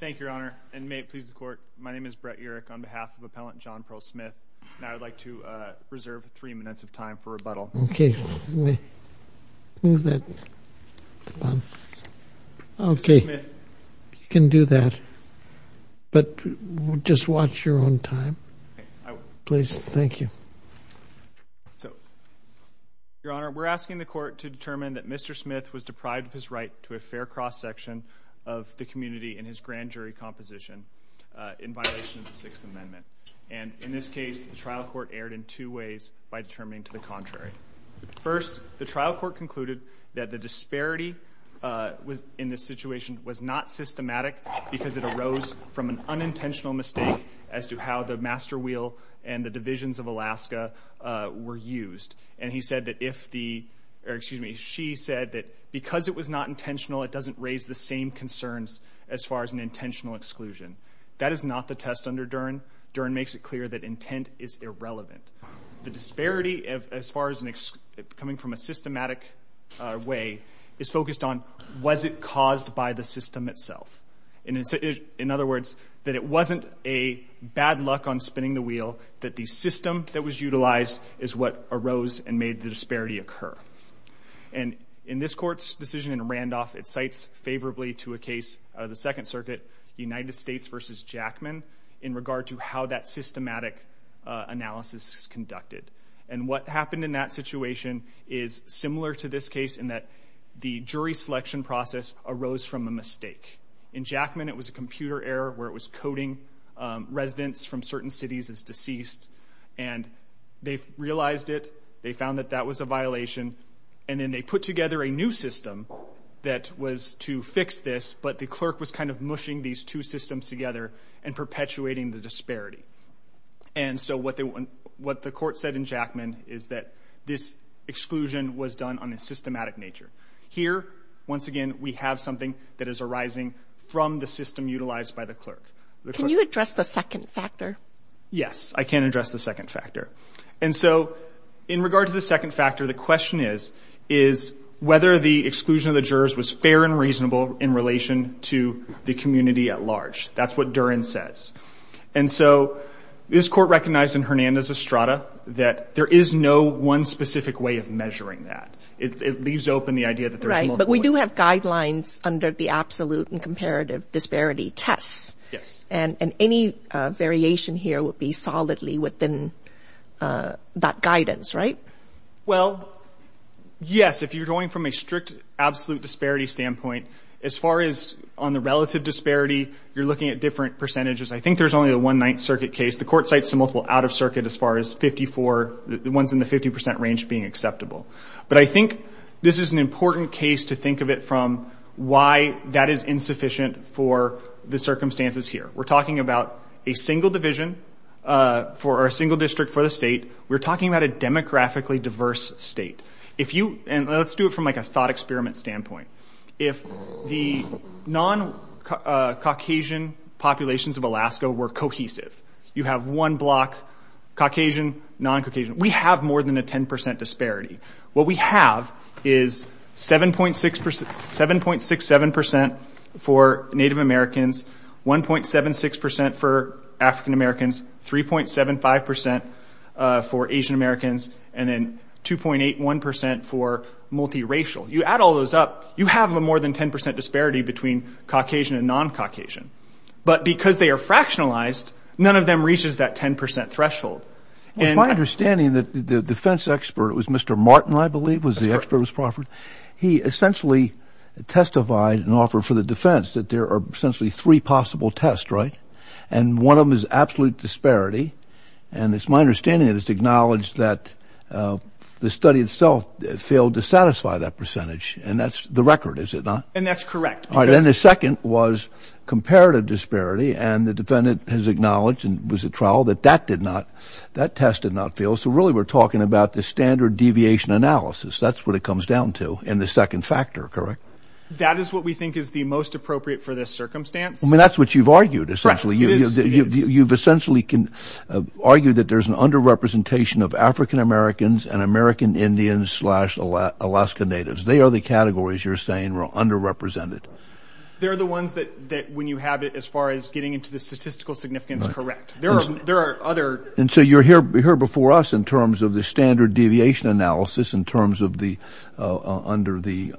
Thank you, Your Honor, and may it please the Court, my name is Brett Urich on behalf of Appellant John Pearl Smith, and I would like to reserve three minutes of time for rebuttal. Okay, you can do that, but just watch your own time. Please, thank you. So, Your Honor, we're asking the Court to determine that Mr. Smith was deprived of his fair cross-section of the community in his grand jury composition in violation of the Sixth Amendment. And in this case, the trial court erred in two ways by determining to the contrary. First, the trial court concluded that the disparity in this situation was not systematic because it arose from an unintentional mistake as to how the master wheel and the provisions of Alaska were used. And he said that if the, or excuse me, she said that because it was not intentional, it doesn't raise the same concerns as far as an intentional exclusion. That is not the test under Dern. Dern makes it clear that intent is irrelevant. The disparity, as far as coming from a systematic way, is focused on was it caused by the system that was utilized is what arose and made the disparity occur. And in this Court's decision in Randolph, it cites favorably to a case of the Second Circuit, United States v. Jackman, in regard to how that systematic analysis is conducted. And what happened in that situation is similar to this case in that the jury selection process arose from a mistake. In Jackman, it was a computer error where it was coding residents from certain cities as deceased. And they realized it. They found that that was a violation. And then they put together a new system that was to fix this, but the clerk was kind of mushing these two systems together and perpetuating the disparity. And so what the court said in Jackman is that this exclusion was done on a systematic nature. Here, once again, we have something that is a system utilized by the clerk. Can you address the second factor? Yes, I can address the second factor. And so in regard to the second factor, the question is whether the exclusion of the jurors was fair and reasonable in relation to the community at large. That's what Dern says. And so this Court recognized in Hernandez-Estrada that there is no one specific way of measuring that. It leaves open the idea that there's multiple ways. That's under the absolute and comparative disparity tests. And any variation here would be solidly within that guidance, right? Well, yes. If you're going from a strict absolute disparity standpoint, as far as on the relative disparity, you're looking at different percentages. I think there's only a one-ninth circuit case. The Court cites the multiple out-of-circuit as far as 54, the ones in the 50 percent range being acceptable. But I think this is an important case to think of it from why that is insufficient for the circumstances here. We're talking about a single division for a single district for the state. We're talking about a demographically diverse state. If you, and let's do it from a thought experiment standpoint. If the non-Caucasian populations of Alaska were cohesive, you have one block, Caucasian, non-Caucasian, we have more than a 10 percent disparity. What we have is 7.67 percent for Native Americans, 1.76 percent for African-Americans, 3.75 percent for Asian-Americans, and then 2.81 percent for multiracial. You add all those up, you have a more than 10 percent disparity between Caucasian and non-Caucasian. But because they are fractionalized, none of them reaches that 10 percent threshold. It's my understanding that the defense expert, it was Mr. Martin, I believe, was the expert that was proffered. He essentially testified and offered for the defense that there are essentially three possible tests, right? And one of them is absolute disparity. And it's my understanding that it's acknowledged that the study itself failed to satisfy that percentage. And that's the record, is it not? And that's correct. All right. And the second was comparative disparity. And the defendant has acknowledged and was at trial that that did not, that test did not fail. So really we're talking about the standard deviation analysis. That's what it comes down to. And the second factor, correct? That is what we think is the most appropriate for this circumstance. I mean, that's what you've argued, essentially. You've essentially argued that there's an underrepresentation of African-Americans and American Indians slash Alaska Natives. They are the categories you're saying are underrepresented. They're the ones that, when you have it as far as getting into the statistical significance, correct. There are other... And so you're here before us in terms of the standard deviation analysis in terms of the, under the,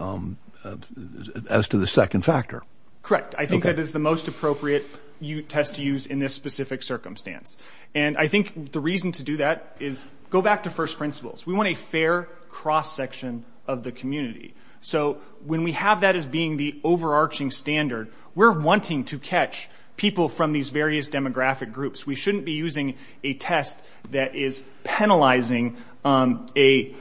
as to the second factor. Correct. I think that is the most appropriate test to use in this specific circumstance. And I think the reason to do that is, go back to first principles. We want a fair cross-section of the community. So when we have that as being the overarching standard, we're wanting to catch people from these various demographic groups. We shouldn't be using a test that is penalizing a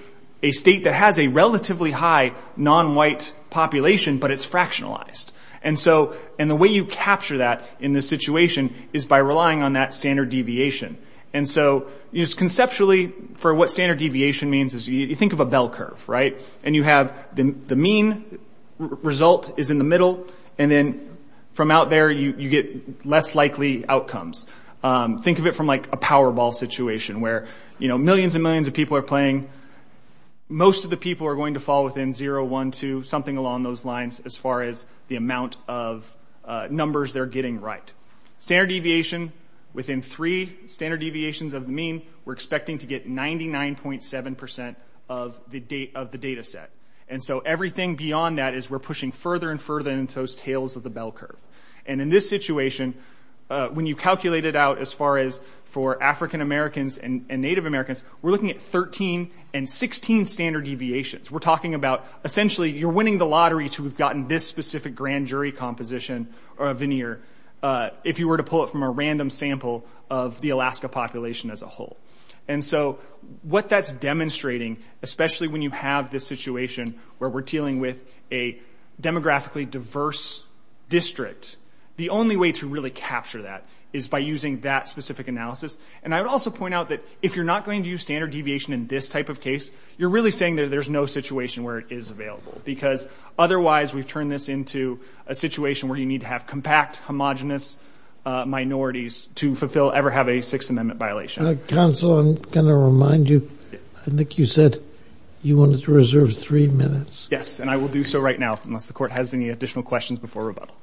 state that has a relatively high non-white population, but it's fractionalized. And so, and the way you capture that in this situation is by relying on that standard deviation. And so, conceptually, for what standard deviation means is you think of a bell curve, right? And you have the mean result is in the middle, and then from out there you get less likely outcomes. Think of it from like a Powerball situation where, you know, millions and millions of people are playing. Most of the people are going to fall within 0, 1, 2, something along those lines as far as the amount of numbers they're getting right. Standard deviation, within three standard deviations of the mean, we're expecting to get 99.7% of the data set. And so everything beyond that is we're pushing further and further into those tails of the bell curve. And in this situation, when you calculate it out as far as for African Americans and Native Americans, we're looking at 13 and 16 standard deviations. We're talking about, essentially, you're winning the lottery to have gotten this specific grand jury composition or a veneer if you were to pull it from a random sample of the Alaska population as a whole. And so what that's demonstrating, especially when you have this situation where we're dealing with a demographically diverse district, the only way to really capture that is by using that specific analysis. And I would also point out that if you're not going to use standard deviation in this type of case, you're really saying that there's no situation where it is available. Because otherwise, we've turned this into a situation where you need to have compact, homogenous minorities to ever have a Sixth Amendment violation. Counsel, I'm going to remind you, I think you said you wanted to reserve three minutes. Yes, and I will do so right now, unless the court has any additional questions before rebuttal.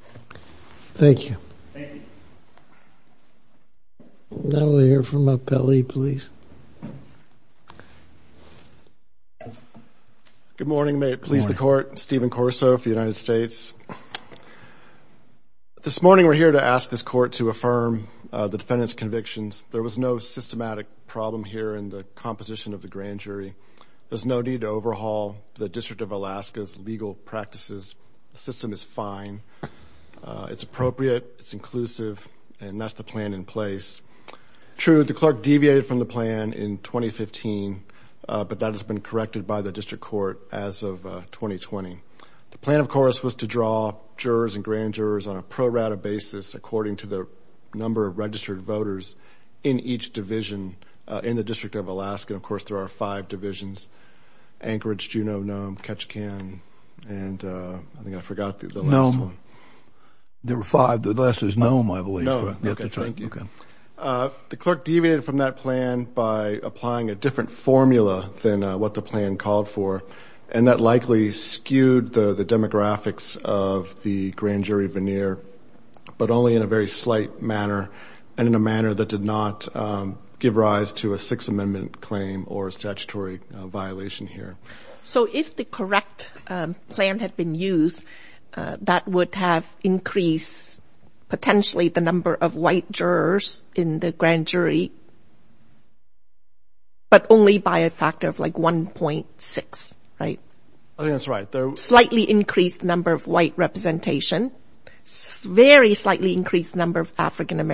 Thank you. Thank you. Now I want to hear from Appellee, please. Good morning. May it please the court. Stephen Corso for the United States. This morning, we're here to ask this court to affirm the defendant's convictions. There was no systematic problem here in the composition of the grand jury. There's no need to overhaul the District of Alaska's legal practices. The system is fine. It's appropriate. It's inclusive. And that's the plan in place. True, the clerk deviated from the plan in 2015, but that has been corrected by the District Court as of 2020. The plan, of course, was to draw jurors and grand jurors on a pro rata basis, according to the number of registered voters in each division in the District of Alaska. Of course, there are five divisions, Anchorage, Juneau, Nome, Ketchikan, and I think I forgot the last one. Nome. There were five. The last is Nome, I believe. Okay, thank you. The clerk deviated from that plan by applying a different formula than what the plan called for, and that likely skewed the demographics of the grand jury veneer, but only in a very slight manner and in a manner that did not give rise to a Sixth Amendment claim or a statutory violation here. So if the correct plan had been used, that would have increased potentially the number of white jurors in the grand jury, but only by a factor of like 1.6, right? I think that's right. The slightly increased number of white representation, very slightly increased number of African That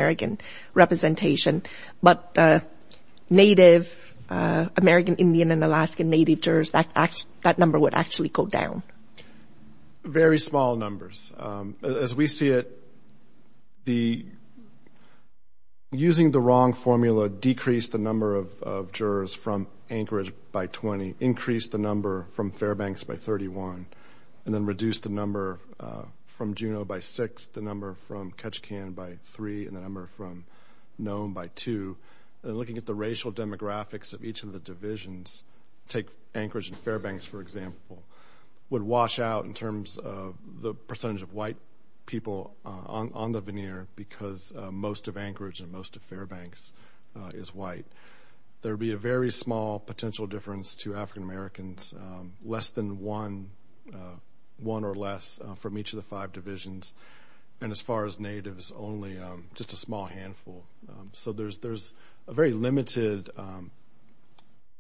number would actually go down. Very small numbers. As we see it, using the wrong formula decreased the number of jurors from Anchorage by 20, increased the number from Fairbanks by 31, and then reduced the number from Juneau by 6, the number from Ketchikan by 3, and the number from Nome by 2. Looking at the racial demographics of each of the divisions, take Anchorage and Fairbanks, for example, would wash out in terms of the percentage of white people on the veneer because most of Anchorage and most of Fairbanks is white. There would be a very small potential difference to African Americans, less than one or less from each of the five divisions, and as far as natives, only just a small handful. So there's a very limited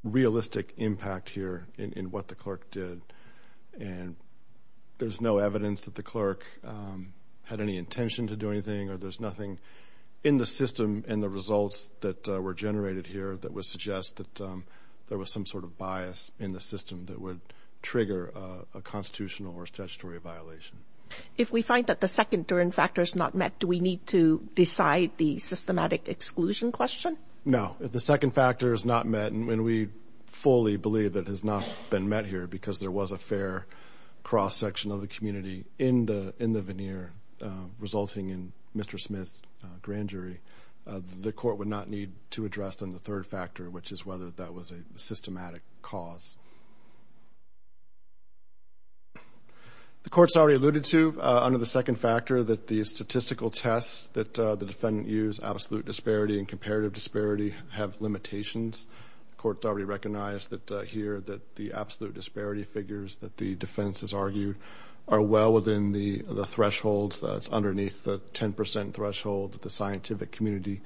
realistic impact here in what the clerk did, and there's no evidence that the clerk had any intention to do anything or there's nothing in the system and the results that were generated here that would suggest that there was some sort of bias in the system that would trigger a constitutional or statutory violation. If we find that the second turn factor is not met, do we need to decide the systematic exclusion question? No. If the second factor is not met, and we fully believe that it has not been met here because there was a fair cross-section of the community in the veneer resulting in Mr. Smith's grand jury, the court would not need to address the third factor, which is whether that was a systematic cause. The court has already alluded to, under the second factor, that the statistical tests that the defendant used, absolute disparity and comparative disparity, have limitations. The court has already recognized here that the absolute disparity figures that the defense has argued are well within the thresholds, that's underneath the 10 percent threshold that the scientific community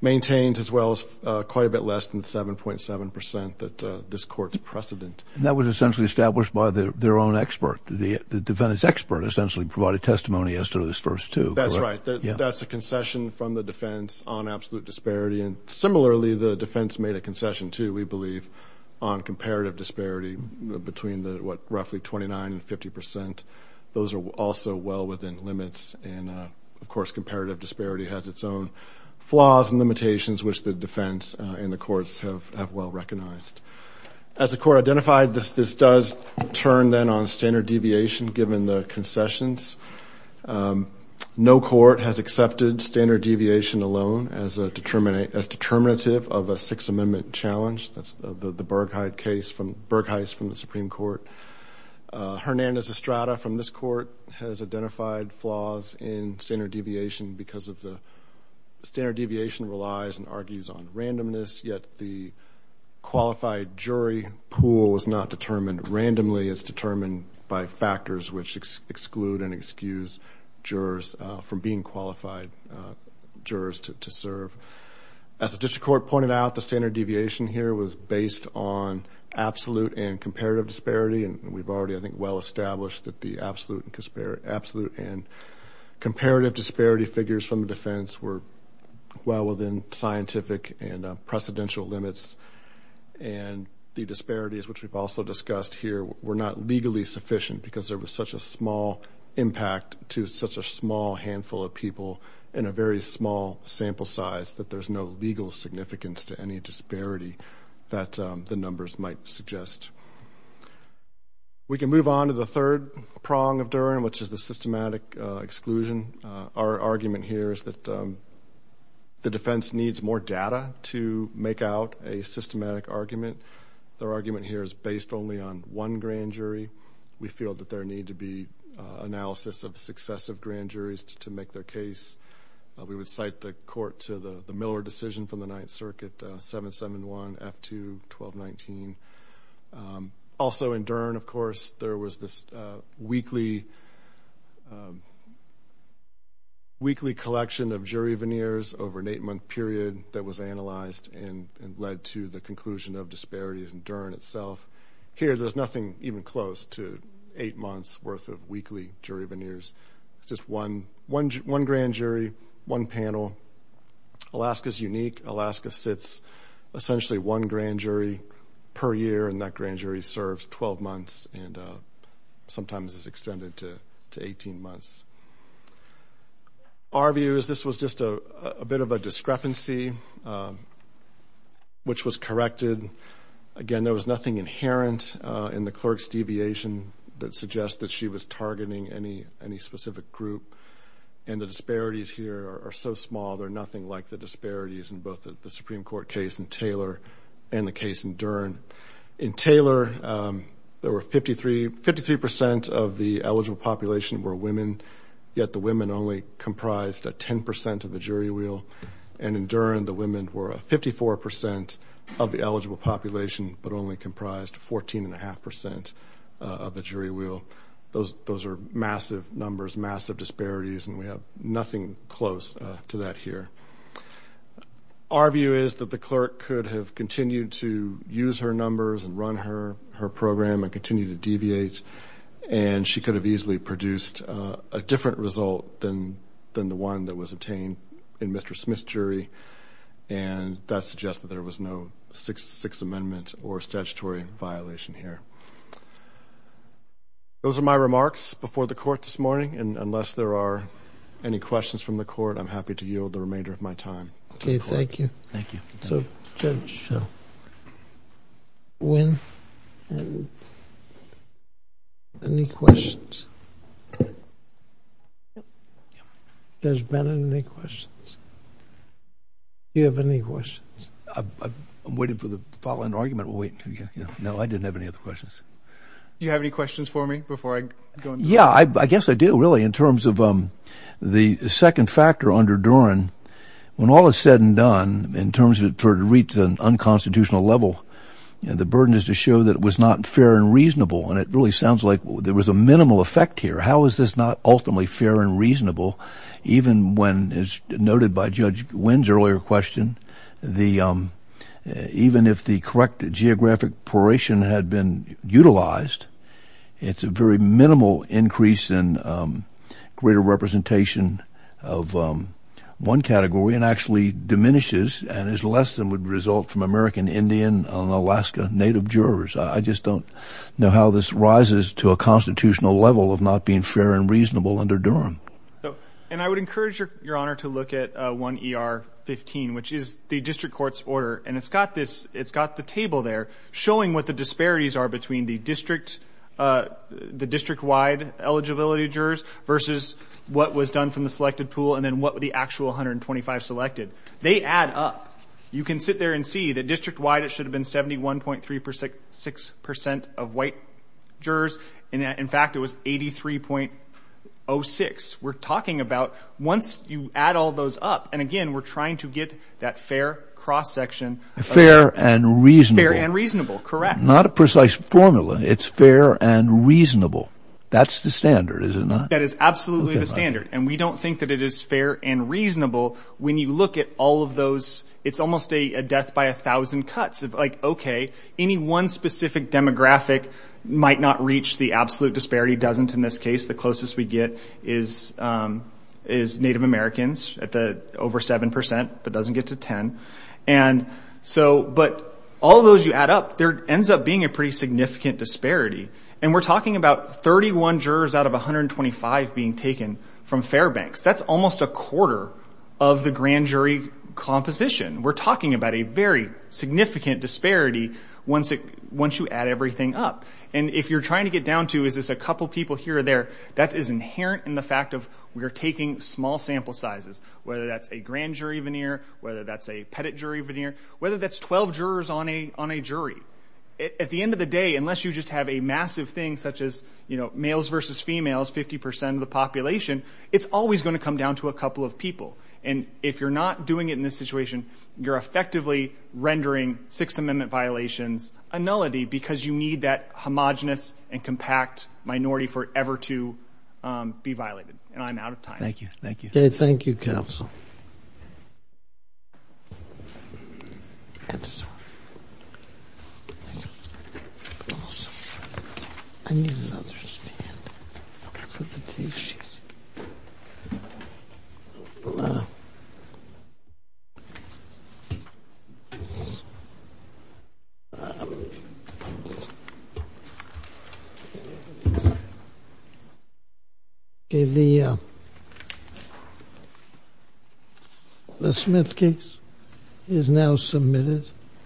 maintains, as well as quite a bit less than the 7.7 percent that this court's precedent. And that was essentially established by their own expert. The defendant's expert essentially provided testimony as to those first two, correct? That's right. That's a concession from the defense on absolute disparity, and similarly, the defense made a concession, too, we believe, on comparative disparity between the roughly 29 and 50 percent. Those are also well within limits, and of course, comparative disparity has its own flaws and limitations, which the defense and the courts have well recognized. As the court identified, this does turn, then, on standard deviation, given the concessions. No court has accepted standard deviation alone as determinative of a Sixth Amendment challenge. That's the Burgheist case from the Supreme Court. Hernandez-Estrada, from this court, has identified flaws in standard deviation because of the standard deviation relies and argues on randomness, yet the qualified jury pool was not determined randomly. It's determined by factors which exclude and excuse jurors from being qualified jurors to serve. As the district court pointed out, the standard deviation here was based on absolute and comparative disparity, and we've already, I think, well established that the absolute and comparative disparity figures from the defense were well within scientific and precedential limits, and the disparities, which we've also discussed here, were not legally sufficient because there was such a small impact to such a small handful of people in a very small sample size that there's no legal significance to any disparity that the numbers might suggest. We can move on to the third prong of Durham, which is the systematic exclusion. Our argument here is that the defense needs more data to make out a systematic argument. Their argument here is based only on one grand jury. We feel that there need to be analysis of successive grand juries to make their case. We would cite the court to the Miller decision from the Ninth Circuit, 771 F2 1219. Also in Durham, of course, there was this weekly collection of jury veneers over an eight-month period that was analyzed and led to the conclusion of disparities in Durham itself. Here, there's nothing even close to eight months' worth of weekly jury veneers. It's just one grand jury, one panel. Alaska's unique. Alaska sits essentially one grand jury per year, and that grand jury serves 12 months and sometimes is extended to 18 months. Our view is this was just a bit of a discrepancy, which was corrected. Again, there was nothing inherent in the clerk's deviation that suggests that she was targeting any specific group. And the disparities here are so small, they're nothing like the disparities in both the Supreme Court case in Taylor and the case in Durham. In Taylor, there were 53 percent of the eligible population were women, yet the women only comprised 10 percent of the jury wheel. And in Durham, the women were 54 percent of the eligible population, but only comprised 14.5 percent of the jury wheel. So those are massive numbers, massive disparities, and we have nothing close to that here. Our view is that the clerk could have continued to use her numbers and run her program and continue to deviate, and she could have easily produced a different result than the one that was obtained in Mr. Smith's jury, and that suggests that there was no Sixth Amendment or statutory violation here. Those are my remarks before the Court this morning, and unless there are any questions from the Court, I'm happy to yield the remainder of my time to the Court. Thank you. Thank you. Thank you. So, Judge Nguyen, any questions? Does Bennett have any questions? Do you have any questions? I'm waiting for the following argument, we'll wait until, you know, no, I didn't have any other questions. Do you have any questions for me before I go on? Yeah, I guess I do, really, in terms of the second factor under Doran, when all is said and done, in terms of, for it to reach an unconstitutional level, you know, the burden is to show that it was not fair and reasonable, and it really sounds like there was a minimal effect here. How is this not ultimately fair and reasonable, even when, as noted by Judge Nguyen's earlier question, even if the correct geographic poration had been utilized, it's a very minimal increase in greater representation of one category, and actually diminishes and is less than would result from American Indian and Alaska Native jurors. I just don't know how this rises to a constitutional level of not being fair and reasonable under Doran. And I would encourage your Honor to look at 1ER15, which is the district court's order, and it's got this, it's got the table there showing what the disparities are between the district, the district-wide eligibility jurors versus what was done from the selected pool and then what the actual 125 selected. They add up. You can sit there and see that district-wide it should have been 71.36 percent of white jurors. In fact, it was 83.06. We're talking about once you add all those up, and again, we're trying to get that fair cross-section. Fair and reasonable. Fair and reasonable. Correct. Not a precise formula. It's fair and reasonable. That's the standard, is it not? That is absolutely the standard, and we don't think that it is fair and reasonable when you look at all of those, it's almost a death by a thousand cuts of like, okay, any one specific demographic might not reach the absolute disparity, doesn't in this case. The closest we get is Native Americans at the over 7 percent, but doesn't get to 10, and so, but all those you add up, there ends up being a pretty significant disparity, and we're talking about 31 jurors out of 125 being taken from Fairbanks. That's almost a quarter of the grand jury composition. We're talking about a very significant disparity once you add everything up, and if you're trying to get down to, is this a couple people here or there, that is inherent in the fact of we're taking small sample sizes, whether that's a grand jury veneer, whether that's a pettit jury veneer, whether that's 12 jurors on a jury. At the end of the day, unless you just have a massive thing such as, you know, males versus females, 50 percent of the population, it's always going to come down to a couple of people, and if you're not doing it in this situation, you're effectively rendering Sixth Amendment violations a nullity because you need that homogenous and compact minority for it ever to be violated, and I'm out of time. Thank you. Thank you. Thank you, counsel. I'm sorry. I need another stand. I can't find the T-sheets. Okay, the Smith case is now submitted.